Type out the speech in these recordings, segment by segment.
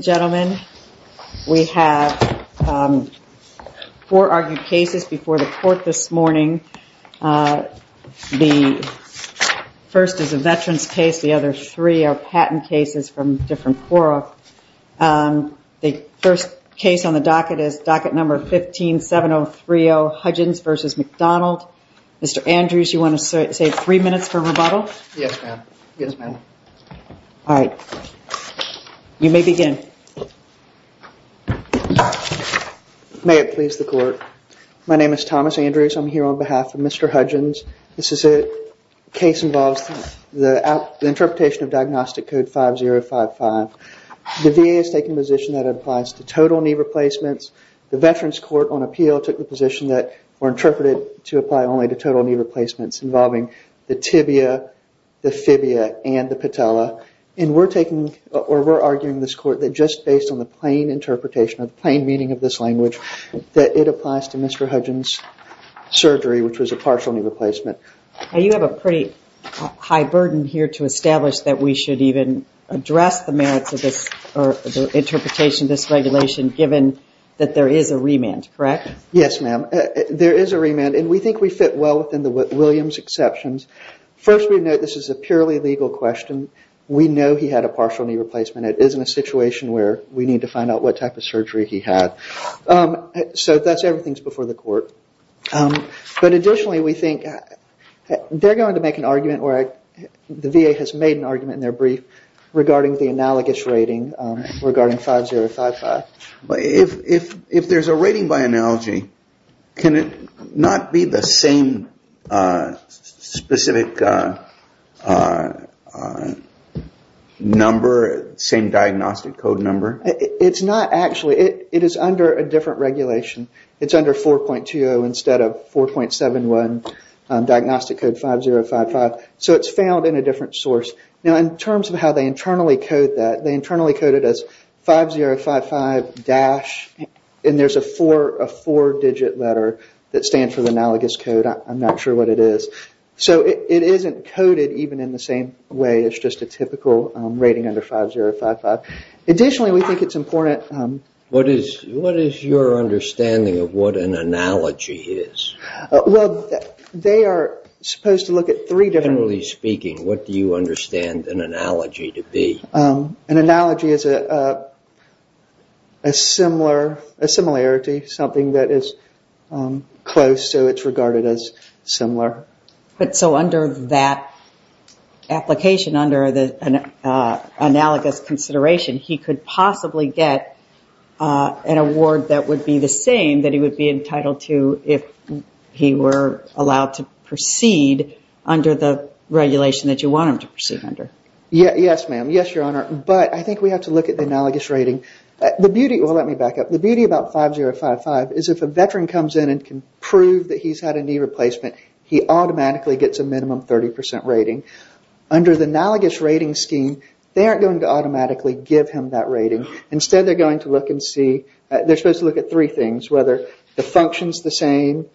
gentlemen we have four argued cases before the court this morning the first is a veteran's case the other three are patent cases from different Quora the first case on the docket is docket number 157030 Hudgens v. McDonald mr. Andrews you want to say three minutes for rebuttal yes ma'am yes ma'am all right you may begin may it please the court my name is Thomas Andrews I'm here on behalf of mr. Hudgens this is a case involves the interpretation of diagnostic code 5055 the VA is taking position that applies to total knee replacements the veterans court on appeal took the position that were interpreted to apply only to total knee replacements involving the tibia the and we're taking or we're arguing this court that just based on the plain interpretation of plain meaning of this language that it applies to mr. Hudgens surgery which was a partial knee replacement you have a pretty high burden here to establish that we should even address the merits of this or interpretation this regulation given that there is a remand correct yes ma'am there is a remand and we think we fit well within the Williams exceptions first we know this is a purely legal question we know he had a partial knee replacement it isn't a situation where we need to find out what type of surgery he had so that's everything's before the court but additionally we think they're going to make an argument where the VA has made an argument in their brief regarding the analogous rating regarding 5055 if if specific number same diagnostic code number it's not actually it is under a different regulation it's under 4.20 instead of 4.71 diagnostic code 5055 so it's found in a different source now in terms of how they internally code that they internally coded as 5055 dash and there's a four a four digit letter that I'm not sure what it is so it isn't coded even in the same way it's just a typical rating under 5055 additionally we think it's important what is what is your understanding of what an analogy is well they are supposed to look at three different really speaking what do you understand an analogy to be an analogy is a similar a similarity something that is close so it's regarded as similar but so under that application under the analogous consideration he could possibly get an award that would be the same that he would be entitled to if he were allowed to proceed under the regulation that you want him to proceed under yes ma'am yes your honor but I think we have to look at the analogous rating the beauty well let me back up the beauty about 5055 is if a veteran comes in and can prove that he's had a knee replacement he automatically gets a minimum 30% rating under the analogous rating scheme they aren't going to automatically give him that rating instead they're going to look and see they're supposed to look at three things whether the functions the same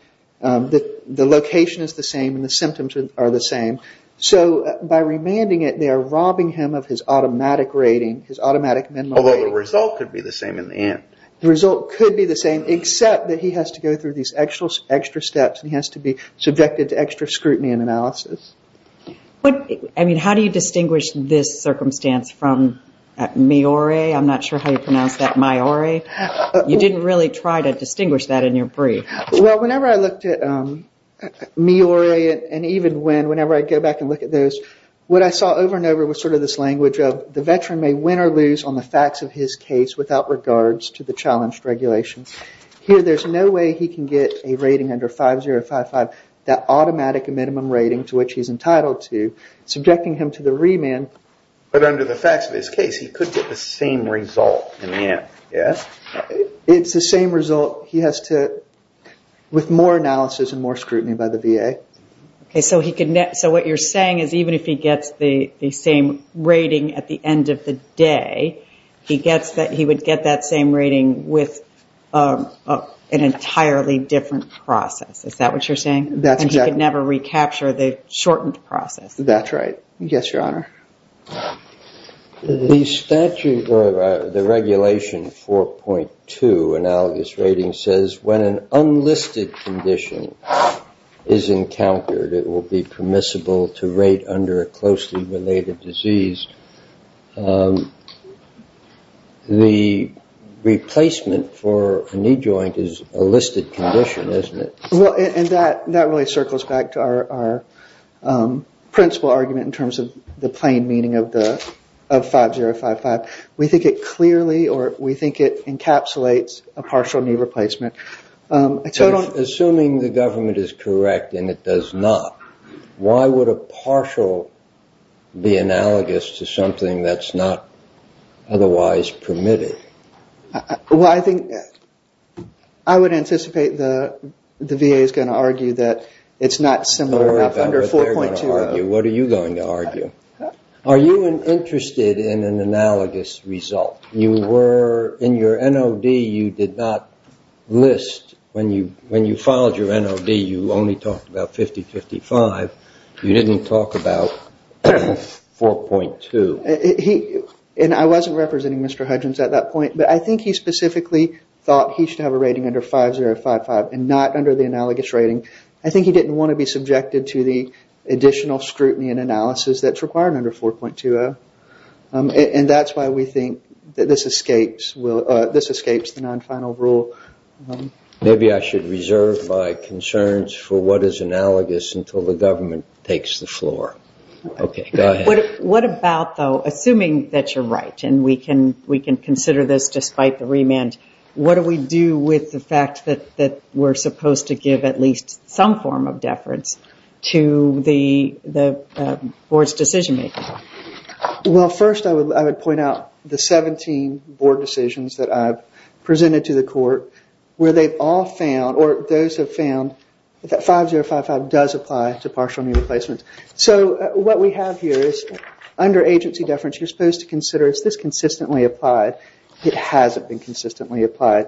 that the location is the same the symptoms are the same so by remanding it they are robbing him of his automatic rating his automatic result could be the same in the end the result could be the same except that he has to go through these extra steps he has to be subjected to extra scrutiny and analysis but I mean how do you distinguish this circumstance from me or a I'm not sure how you pronounce that my or a you didn't really try to distinguish that in your brief well whenever I looked at me or a and even when whenever I go back and look at those what I saw over and over was sort of this language of the veteran may win or lose on the facts of his case without regards to the challenged regulations here there's no way he can get a rating under 5055 that automatic a minimum rating to which he's entitled to subjecting him to the remand but under the facts of his case he could get the same result in the end yes it's the same result he has to with more analysis and more scrutiny by the VA okay so he could net so what you're saying is even if he gets the same rating at the end of the day he gets that he would get that same rating with an entirely different process is that what you're saying that's never recapture the shortened process that's right yes your honor the statute of the regulation 4.2 analogous rating says when an unlisted condition is encountered it will be permissible to rate under a closely related disease the replacement for a knee joint is a listed condition isn't it well and that that really circles back to our principal argument in terms of the plain meaning of the of 5055 we think it clearly or we think it encapsulates a partial knee replacement assuming the government is correct and it does not why would a partial be analogous to something that's not otherwise permitted well I think I would anticipate the the VA is going to argue that it's not similar under 4.2 what are you going to argue are you interested in an analogous result you were in your NOD you did not list when you when you filed your NOD you only talked about 50 55 you didn't talk about 4.2 he and I wasn't representing mr. Huggins at that point but I think he specifically thought he should have a rating under 5055 and not under the analogous rating I think he didn't want to be subjected to the additional scrutiny and analysis that's required under 4.2 and that's why we think that this escapes will this escapes the non-final rule maybe I should reserve my concerns for what is analogous until the government takes the floor okay what about though assuming that you're right and we can we can consider this despite the remand what do we do with the fact that that we're in some form of deference to the the board's decision-making well first I would I would point out the 17 board decisions that I've presented to the court where they've all found or those have found that 5055 does apply to partial new replacements so what we have here is under agency deference you're supposed to consider is this consistently applied it hasn't been consistently applied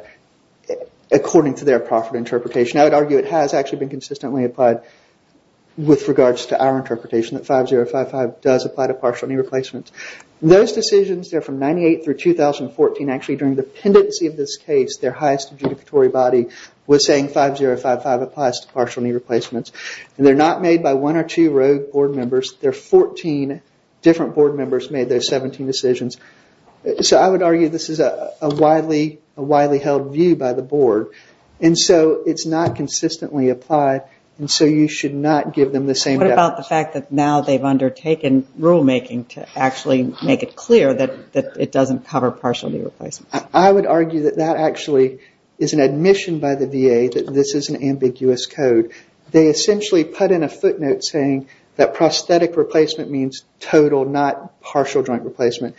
according to their profit interpretation I would argue it has actually been consistently applied with regards to our interpretation that 5055 does apply to partial new replacements those decisions there from 98 through 2014 actually during the pendency of this case their highest adjudicatory body was saying 5055 applies to partial new replacements and they're not made by one or two road board members there 14 different board members made those 17 decisions so I would argue this is a widely a widely held view by the board and so it's not consistently applied and so you should not give them the same about the fact that now they've undertaken rulemaking to actually make it clear that it doesn't cover partially replace I would argue that that actually is an admission by the VA that this is an ambiguous code they essentially put in a footnote saying that prosthetic replacement means total not partial joint replacement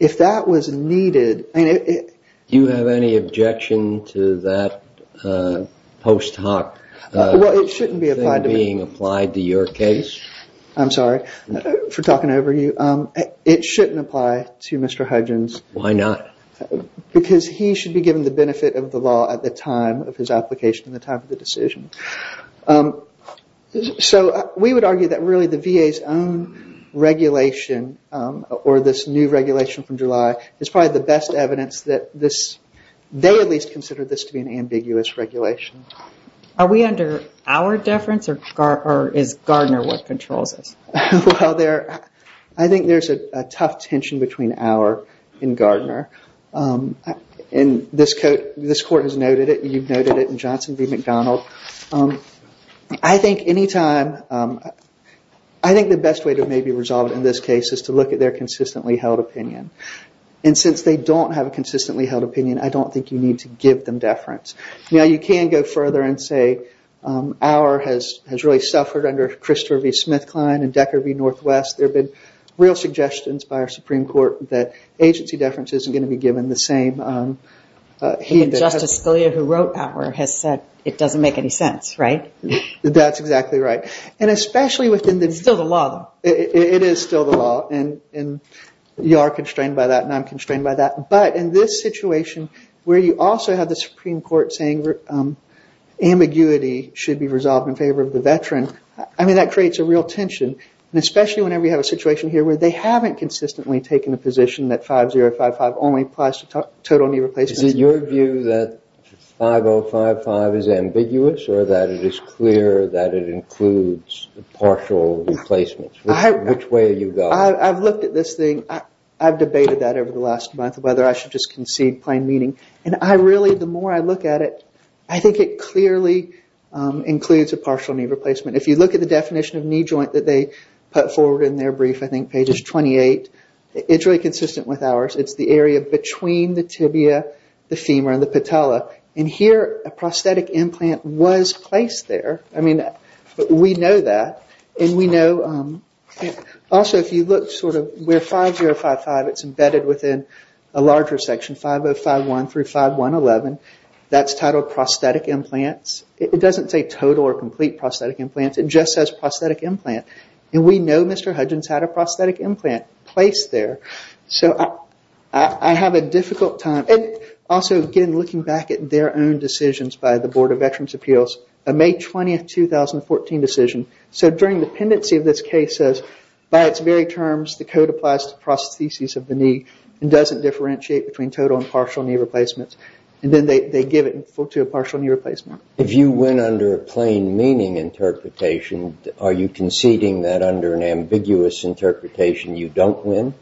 if that was needed and if you have any objection to that post hoc it shouldn't be applied to your case I'm sorry for talking over you it shouldn't apply to Mr. Huggins why not because he should be given the benefit of the law at the time of his application the type of the decision so we would argue that really the VA's own regulation or this new regulation from July is probably the best evidence that this they at least consider this to be an ambiguous regulation. Are we under our deference or is Gardner what controls us? I think there's a tough tension between our and Gardner and this court has noted it and you've noted it in Johnson v. McDonald. I think anytime I think the best way to maybe resolve in this case is to look at their consistently held opinion and since they don't have a consistently held opinion I don't think you need to give them deference. Now you can go further and say our has has really suffered under Christopher v. Smith Klein and Decker v. Northwest there have been real suggestions by our Supreme Court that agency deference isn't going to be given the same he doesn't make any sense right? That's exactly right and especially within the still the law it is still the law and you are constrained by that and I'm constrained by that but in this situation where you also have the Supreme Court saying ambiguity should be resolved in favor of the veteran I mean that creates a real tension especially whenever you have a situation here where they haven't consistently taken a position that 5055 only applies to total knee replacement. Is it your view that 5055 is ambiguous or that it is clear that it includes partial replacements? Which way are you going? I've looked at this thing I've debated that over the last month whether I should just concede plain meaning and I really the more I look at it I think it clearly includes a partial knee replacement if you look at the definition of knee joint that they put forward in their brief I think pages 28 it's really consistent with ours it's the area between the tibia, the femur and the patella and here a prosthetic implant was placed there I mean we know that and we know also if you look sort of where 5055 it's embedded within a larger section 5051 through 5111 that's titled prosthetic implants it doesn't say total or complete prosthetic implants it just says prosthetic implant and we know Mr. Hudgens had a prosthetic implant placed there so I have a difficult time and also again looking back at their own decisions by the Board of Veterans Appeals a May 20th 2014 decision so during the pendency of this case says by its very terms the code applies to prostheses of the knee and doesn't differentiate between total and partial knee replacements and then they give it to a partial knee replacement. If you went under a plain meaning interpretation are you conceding that under an ambiguous interpretation you don't win?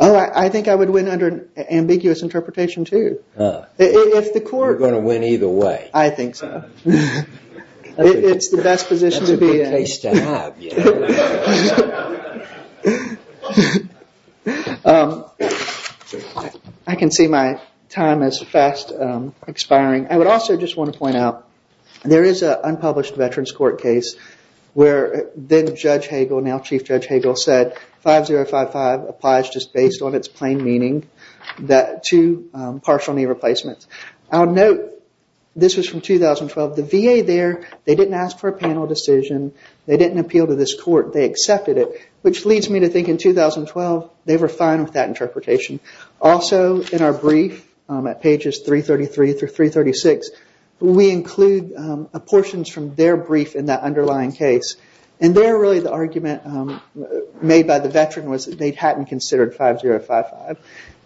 Oh I think I would win under an ambiguous interpretation too. If the court... You're going to win either way. I think so. It's the best position to be in. That's a good case to have. I can see my time is fast expiring I would also just want to point out there is an unpublished Veterans Court case where then Judge Hagel, now Chief Judge Hagel said 5055 applies just based on its plain meaning that to partial knee replacements. I'll note this was from 2012 the VA there they didn't ask for a panel decision they didn't appeal to this court they accepted it which leads me to think in 2012 they were fine with that interpretation. Also in our brief at pages 333 through 336 we include portions from their brief in that underlying case and there really the argument made by the veteran was they hadn't considered 5055.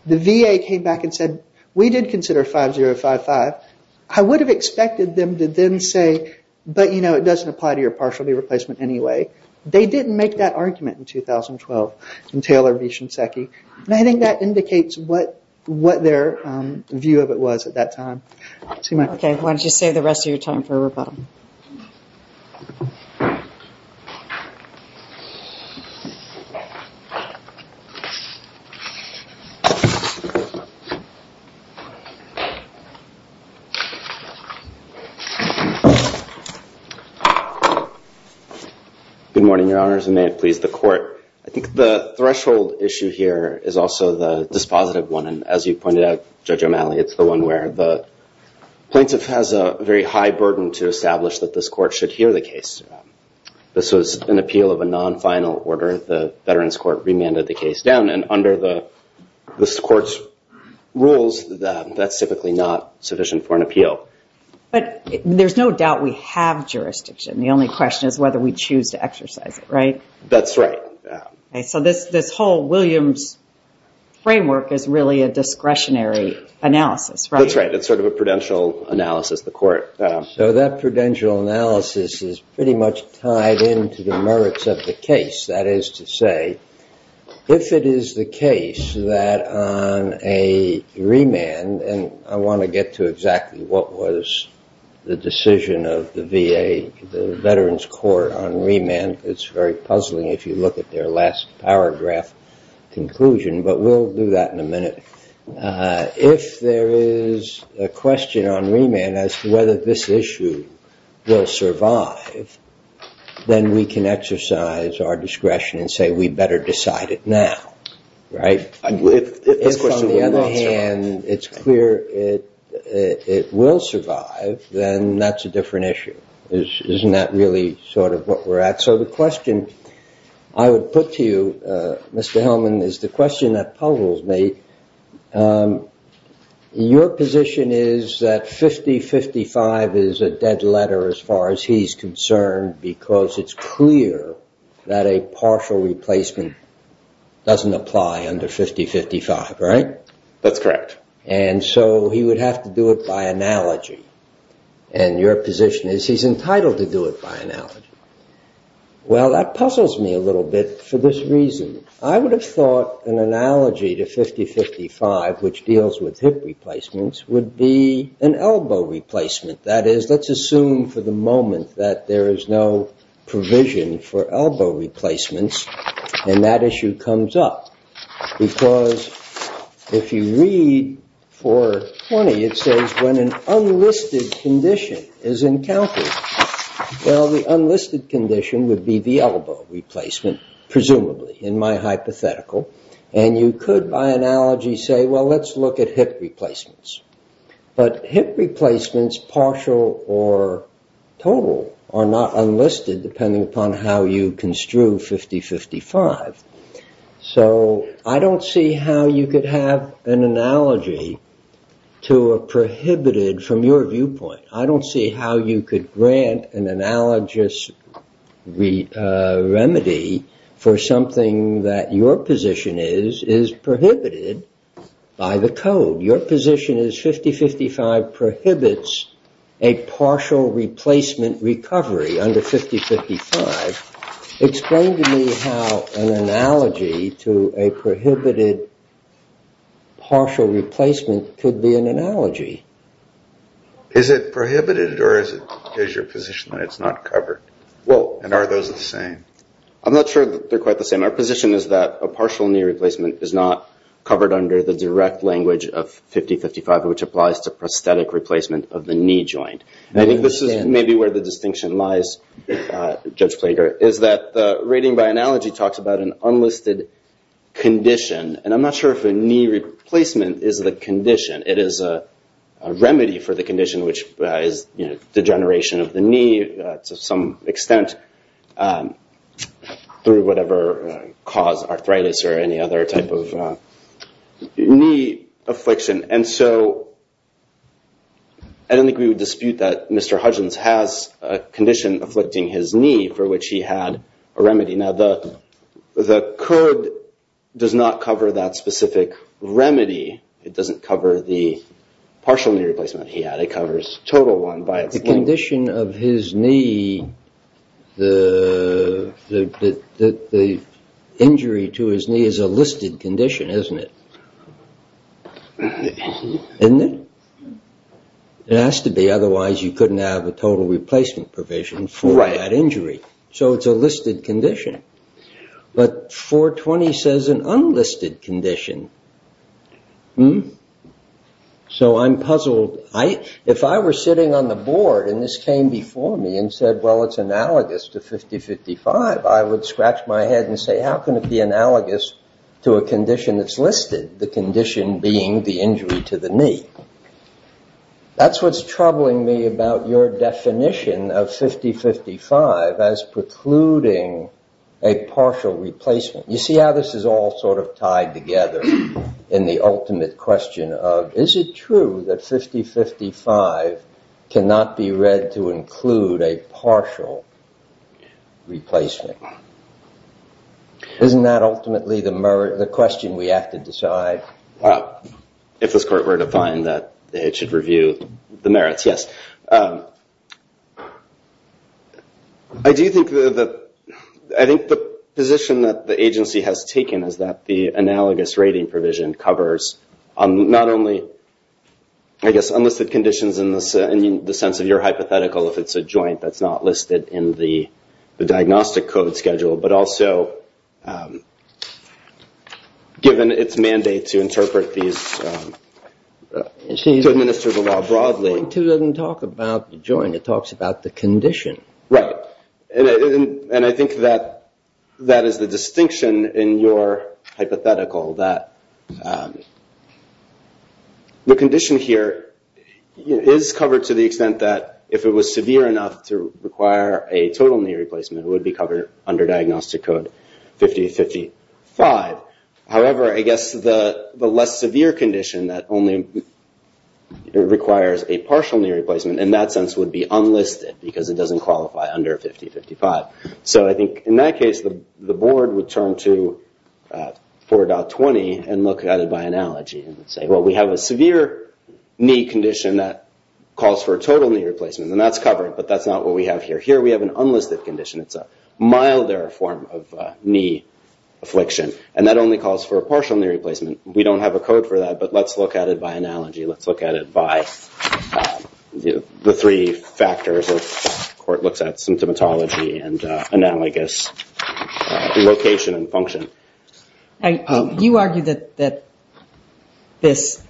The VA came back and said we did consider 5055. I would have expected them to then say but you know it doesn't apply to your partial knee replacement anyway. They didn't make that argument in 2012 and I think that indicates what their view of it was at that time. Okay why don't you save the rest of your time for rebuttal. Good morning your honors and may it please the court. I think the threshold issue here is also the dispositive one and as you pointed out Judge O'Malley it's the one where the plaintiff has a very high burden to establish that this court should hear the case. This was an appeal of a non-final order the Veterans Court remanded the case down and under the this court's rules that that's typically not sufficient for an appeal. But there's no doubt we have jurisdiction the only question is whether we choose to exercise it right? That's right. So this this whole Williams framework is really a That's right it's sort of a prudential analysis the court. So that prudential analysis is pretty much tied into the merits of the case. That is to say if it is the case that on a remand and I want to get to exactly what was the decision of the VA the Veterans Court on remand it's very puzzling if you look at their last paragraph conclusion but we'll do that in a minute. If there is a question on remand as to whether this issue will survive then we can exercise our discretion and say we better decide it now right? If on the other hand it's clear it it will survive then that's a different issue. Isn't that really sort of what we're at? So the question I would put to you Mr. Hellman is the question that puzzles me. Your position is that 50-55 is a dead letter as far as he's concerned because it's clear that a partial replacement doesn't apply under 50-55 right? That's correct. And so he would have to do it by analogy and your Well that puzzles me a little bit for this reason. I would have thought an analogy to 50-55 which deals with hip replacements would be an elbow replacement. That is let's assume for the moment that there is no provision for elbow replacements and that issue comes up because if you read 420 it says when unlisted condition is encountered. Well the unlisted condition would be the elbow replacement presumably in my hypothetical and you could by analogy say well let's look at hip replacements. But hip replacements partial or total are not unlisted depending upon how you construe 50-55. So I don't see how you could have an analogy to a prohibited from your viewpoint. I don't see how you could grant an analogous remedy for something that your position is prohibited by the code. Your position is 50-55 prohibits a partial replacement recovery under 50-55. Explain to me how an analogy to a prohibited partial replacement could be an analogy. Is it prohibited or is your position that it's not covered? Well and are those the same? I'm not sure they're quite the same. Our position is that a partial knee replacement is not covered under the direct language of 50-55 which applies to prosthetic replacement of the knee joint. I think this is maybe where the distinction lies, Judge Plager, is that the rating by analogy talks about an unlisted condition and I'm not sure if a knee replacement is the condition. It is a remedy for the condition which is degeneration of the knee to some extent through whatever cause arthritis or any other type of knee affliction. And so I don't think we would dispute that Mr. Hudgens has a condition afflicting his knee for which he had a remedy. Now the code does not cover that specific remedy. It doesn't cover the partial knee replacement he had. It covers total one by its length. The condition of his knee, the injury to his knee is a listed condition, isn't it? It has to be, otherwise you couldn't have a total replacement provision for that injury. So it's a listed condition. But 420 says an unlisted condition. So I'm puzzled. If I were sitting on the board and this came before me and said well it's analogous to 50-55, I would scratch my head and say how can it be analogous to a condition that's listed? The condition being the injury to the knee. That's what's troubling me about your definition of 50-55 as precluding a partial replacement. You see how this is all sort of tied together in the ultimate question of is it true that 50-55 cannot be read to include a partial replacement? Isn't that ultimately the question we have to decide? If this court were to find that it should review the merits, yes. I do think that I think the position that the agency has taken is that the analogous rating provision covers not only I guess unlisted conditions in the sense of your hypothetical if it's a joint that's not listed in the diagnostic code schedule, but also given its mandate to interpret these to administer the law broadly. It doesn't talk about the joint, it talks about the condition. Right. And I think that that is the distinction in your hypothetical that the condition here is covered to the extent that if it was severe enough to require a total knee replacement, it would be covered under diagnostic code 50-55. However, I guess the less severe condition that only requires a partial knee replacement in that sense would be unlisted because it doesn't qualify under 50-55. So I think in that case the board would turn to 4.20 and look at it by analogy and say well we have a severe knee condition that calls for a total knee replacement and that's covered but that's not what we have here. Here we have an unlisted condition. It's a milder form of knee affliction and that only calls for a partial knee replacement. We don't have a code for that but let's look at it by analogy. Let's look at it by the three factors the court looks at, symptomatology and analogous location and function. You argue that this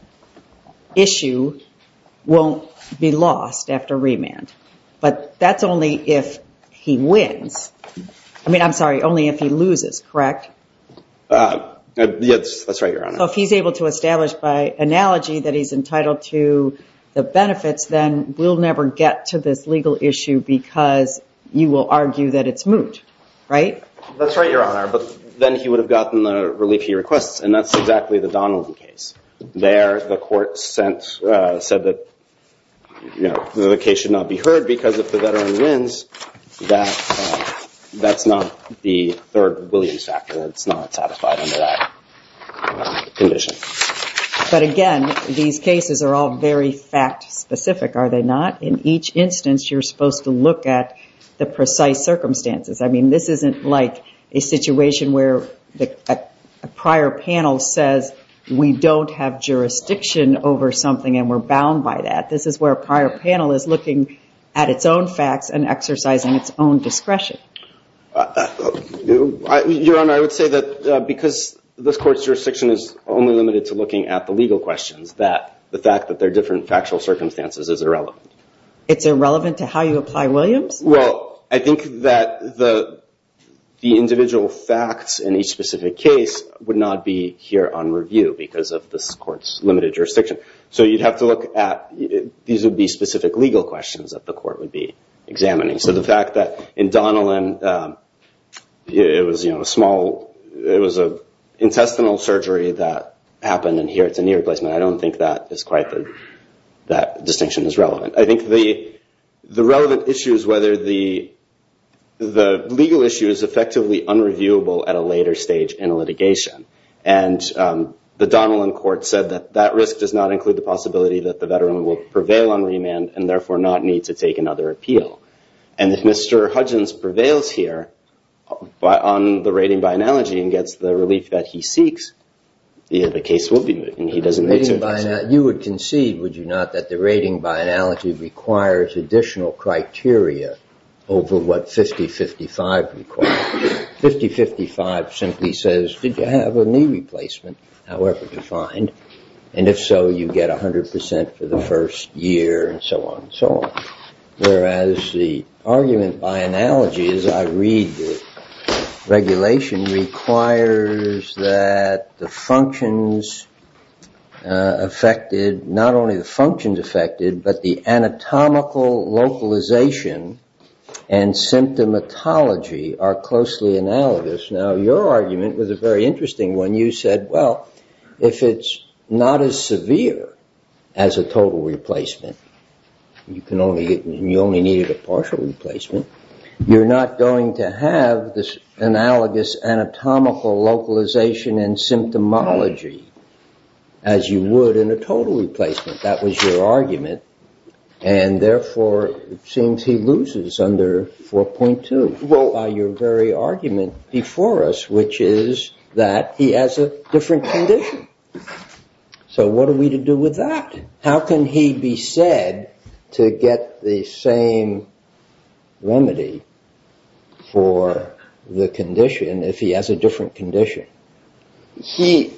issue won't be lost after remand but that's only if he wins. I mean, I'm sorry, only if he loses, correct? Yes, that's right, Your Honor. So if he's able to establish by analogy that he's entitled to the benefits then we'll never get to this legal issue because you will argue that it's moot, right? That's right, Your Honor, but then he would have gotten the relief he requests and that's exactly the Donaldson case. There the court said that the case should not be heard because if the veteran wins, that's not the third Williams factor. It's not satisfied under that condition. But again, these cases are all very fact-specific, are they not? In each instance you're supposed to look at the precise circumstances. I mean, this isn't like a situation where a prior panel says we don't have jurisdiction over something and we're bound by that. This is where a prior panel is looking at its own facts and exercising its own discretion. Your Honor, I would say that because this court's jurisdiction is only limited to looking at the legal questions, that the fact that there are different factual circumstances is irrelevant. It's irrelevant to how you apply Williams? Well, I think that the individual facts in each specific case would not be here on review because of this court's limited jurisdiction. So you'd have to look at these would be specific legal questions that the court would be examining. So the fact that in Donnellan it was, you know, a small, it was an intestinal surgery that happened and here it's a knee replacement, I don't think that distinction is relevant. I think the relevant issue is whether the legal issue is effectively unreviewable at a later stage in a litigation. And the Donnellan court said that that risk does not include the possibility that the veteran will prevail on remand and therefore not need to take another appeal. And if Mr. Hudgens prevails here on the rating by analogy and the relief that he seeks, the case will be moved and he doesn't need to... You would concede, would you not, that the rating by analogy requires additional criteria over what 50-55 requires. 50-55 simply says, did you have a knee replacement, however defined, and if so, you get a hundred percent for the first year and so on and so on. Whereas the argument by analogy, as I read the regulation, requires that the functions affected, not only the functions affected, but the anatomical localization and symptomatology are closely analogous. Now your argument was a very interesting one. You said, well, if it's not as severe as a total replacement, you can only get, you only needed a partial replacement, you're not going to have this analogous anatomical localization and symptomatology as you would in a total replacement. That was your argument and therefore it seems he loses under 4.2. Well, by your very argument before us, which is that he has a different condition. So what are we to do with that? How can he be said to get the same remedy for the condition if he has a different condition? He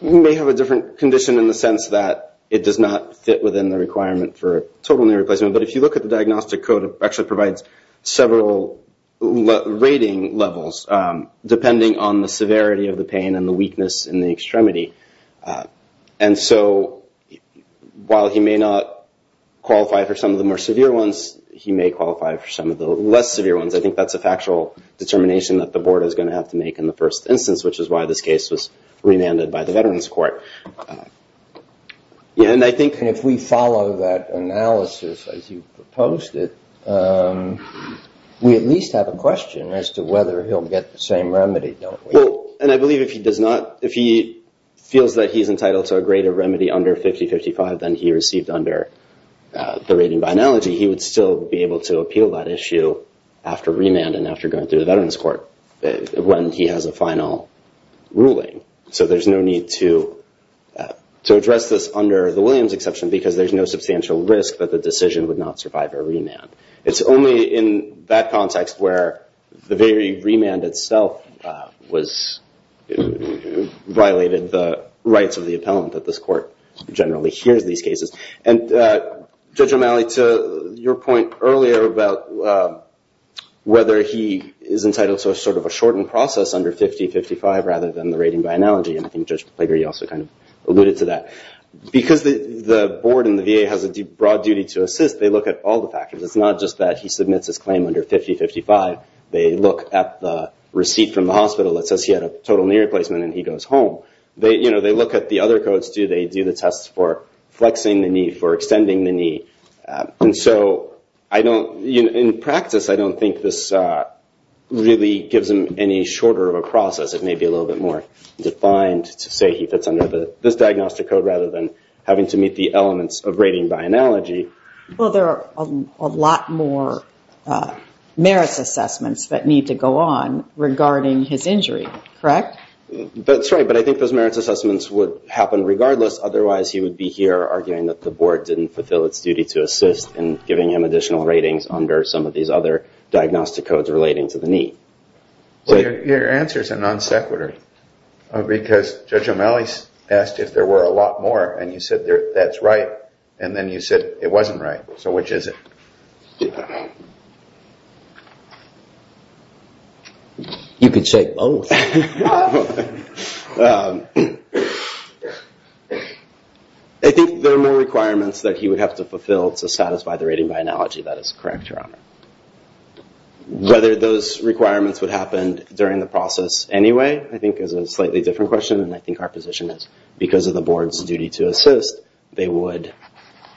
may have a different condition in the sense that it does not fit within the requirement for a total knee replacement, but if you look at the diagnostic code, it actually provides several rating levels depending on the severity of the pain and the weakness in the extremity. And so while he may not qualify for some of the more severe ones, he may qualify for some of the less severe ones. I think that's a factual determination that the board is going to have to make in the first instance, which is why this case was remanded by the Veterans Court. And I think... And if we follow that analysis as you proposed it, we at least have a question as to whether he'll get the same remedy, don't we? Well, and I believe if he does not, if he feels that he's entitled to a greater remedy under 50-55 than he received under the rating by analogy, he would still be able to appeal that issue after remand and after going through the Veterans Court when he has a final ruling. So there's no need to address this under the Williams exception because there's no substantial risk that the decision would not survive a remand. It's only in that context where the very remand itself violated the rights of the appellant that this court generally hears these cases. And Judge O'Malley, to your point earlier about whether he is entitled to a sort of a shortened process under 50-55 rather than the rating by analogy, and I think Judge Plager, you also kind of alluded to that. Because the board and the VA has a broad duty to assist, they look at all the factors. It's not just that he submits his claim under 50-55. They look at the receipt from the hospital that says he had a total knee replacement and he goes home. They look at the other codes. Do they do the tests for flexing the knee, for extending the knee? And so in practice, I don't think this really gives him any shorter of a process. It may be a little bit more defined to say he fits under this diagnostic code rather than having to meet the elements of rating by analogy. Well, there are a lot more merits assessments that need to go on regarding his injury, correct? That's right. But I think those merits assessments would happen regardless. Otherwise, he would be here arguing that the board didn't fulfill its duty to assist in giving him additional ratings under some of these other diagnostic codes relating to the knee. Your answer is a non sequitur because Judge O'Malley asked if there were a lot more and you said that's right and then you said it wasn't right. So which is it? You can shake both. I think there are more requirements that he would have to fulfill to satisfy the rating by analogy. That is correct, Your Honor. Whether those requirements would happen during the process anyway I think is a slightly different question and I think because of the board's duty to assist they would,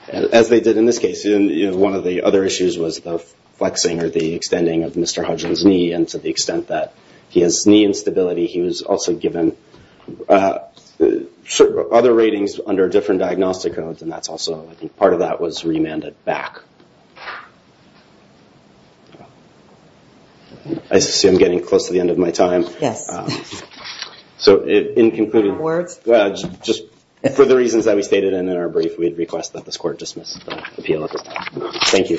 as they did in this case, one of the other issues was the flexing or the extending of Mr. Hudgins' knee and to the extent that he has knee instability he was also given other ratings under different diagnostic codes and that's also part of that was remanded back. I see I'm getting close to the end of my time. Yes. So in concluding, just for the reasons that we stated in our brief we'd request that this court dismiss the appeal at this time. Thank you.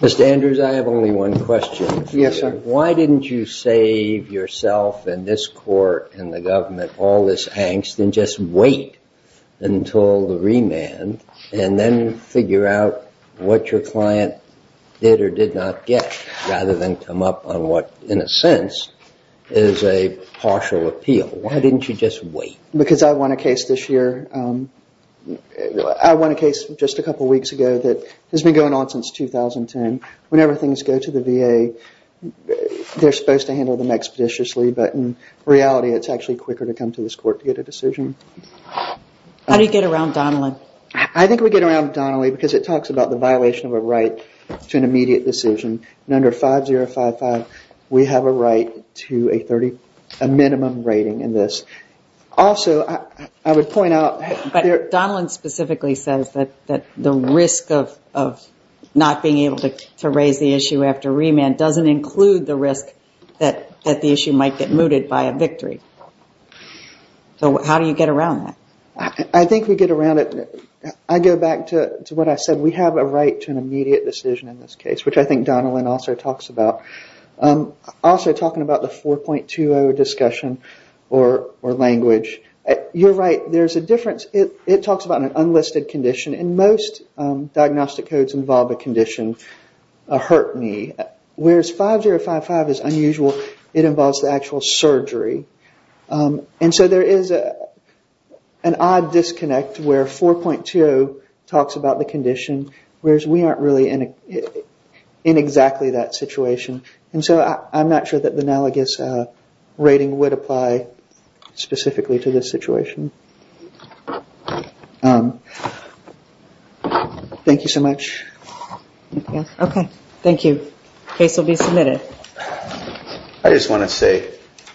Mr. Andrews, I have only one question. Yes, sir. Why didn't you save yourself and this court and the government all this angst and just wait until the remand and then figure out what your client did or did not get rather than come up on what in a sense is a partial appeal? Why didn't you just wait? Because I won a case this year. I won a case just a couple weeks ago that has been going on since 2010. Whenever things go to the VA they're supposed to handle them expeditiously but in reality it's actually quicker to come to this court to get a decision. How do you get around Donnelly? I think we get around Donnelly because it talks about the violation of a right to an immediate decision. Under 5055 we have a right to a minimum rating in this. Also, I would point out that... Donnelly specifically says that the risk of not being able to raise the issue after remand doesn't include the risk that the issue might get mooted by a victory. So how do you get around that? I think we get around it... I go back to what I said. We have a right to an immediate decision in this case which I think Donnelly also talks about. Also talking about the 4.20 discussion or language. You're right, there's a difference. It talks about an unlisted condition and most diagnostic codes involve a condition, a hurt knee, whereas 5055 is unusual. It involves the actual surgery. And so there is an odd disconnect where 4.20 talks about the condition, whereas we aren't really in exactly that situation. And so I'm not sure that the analogous rating would apply specifically to this situation. Thank you so much. Okay, thank you. Case will be submitted. Thank you. I just want to say...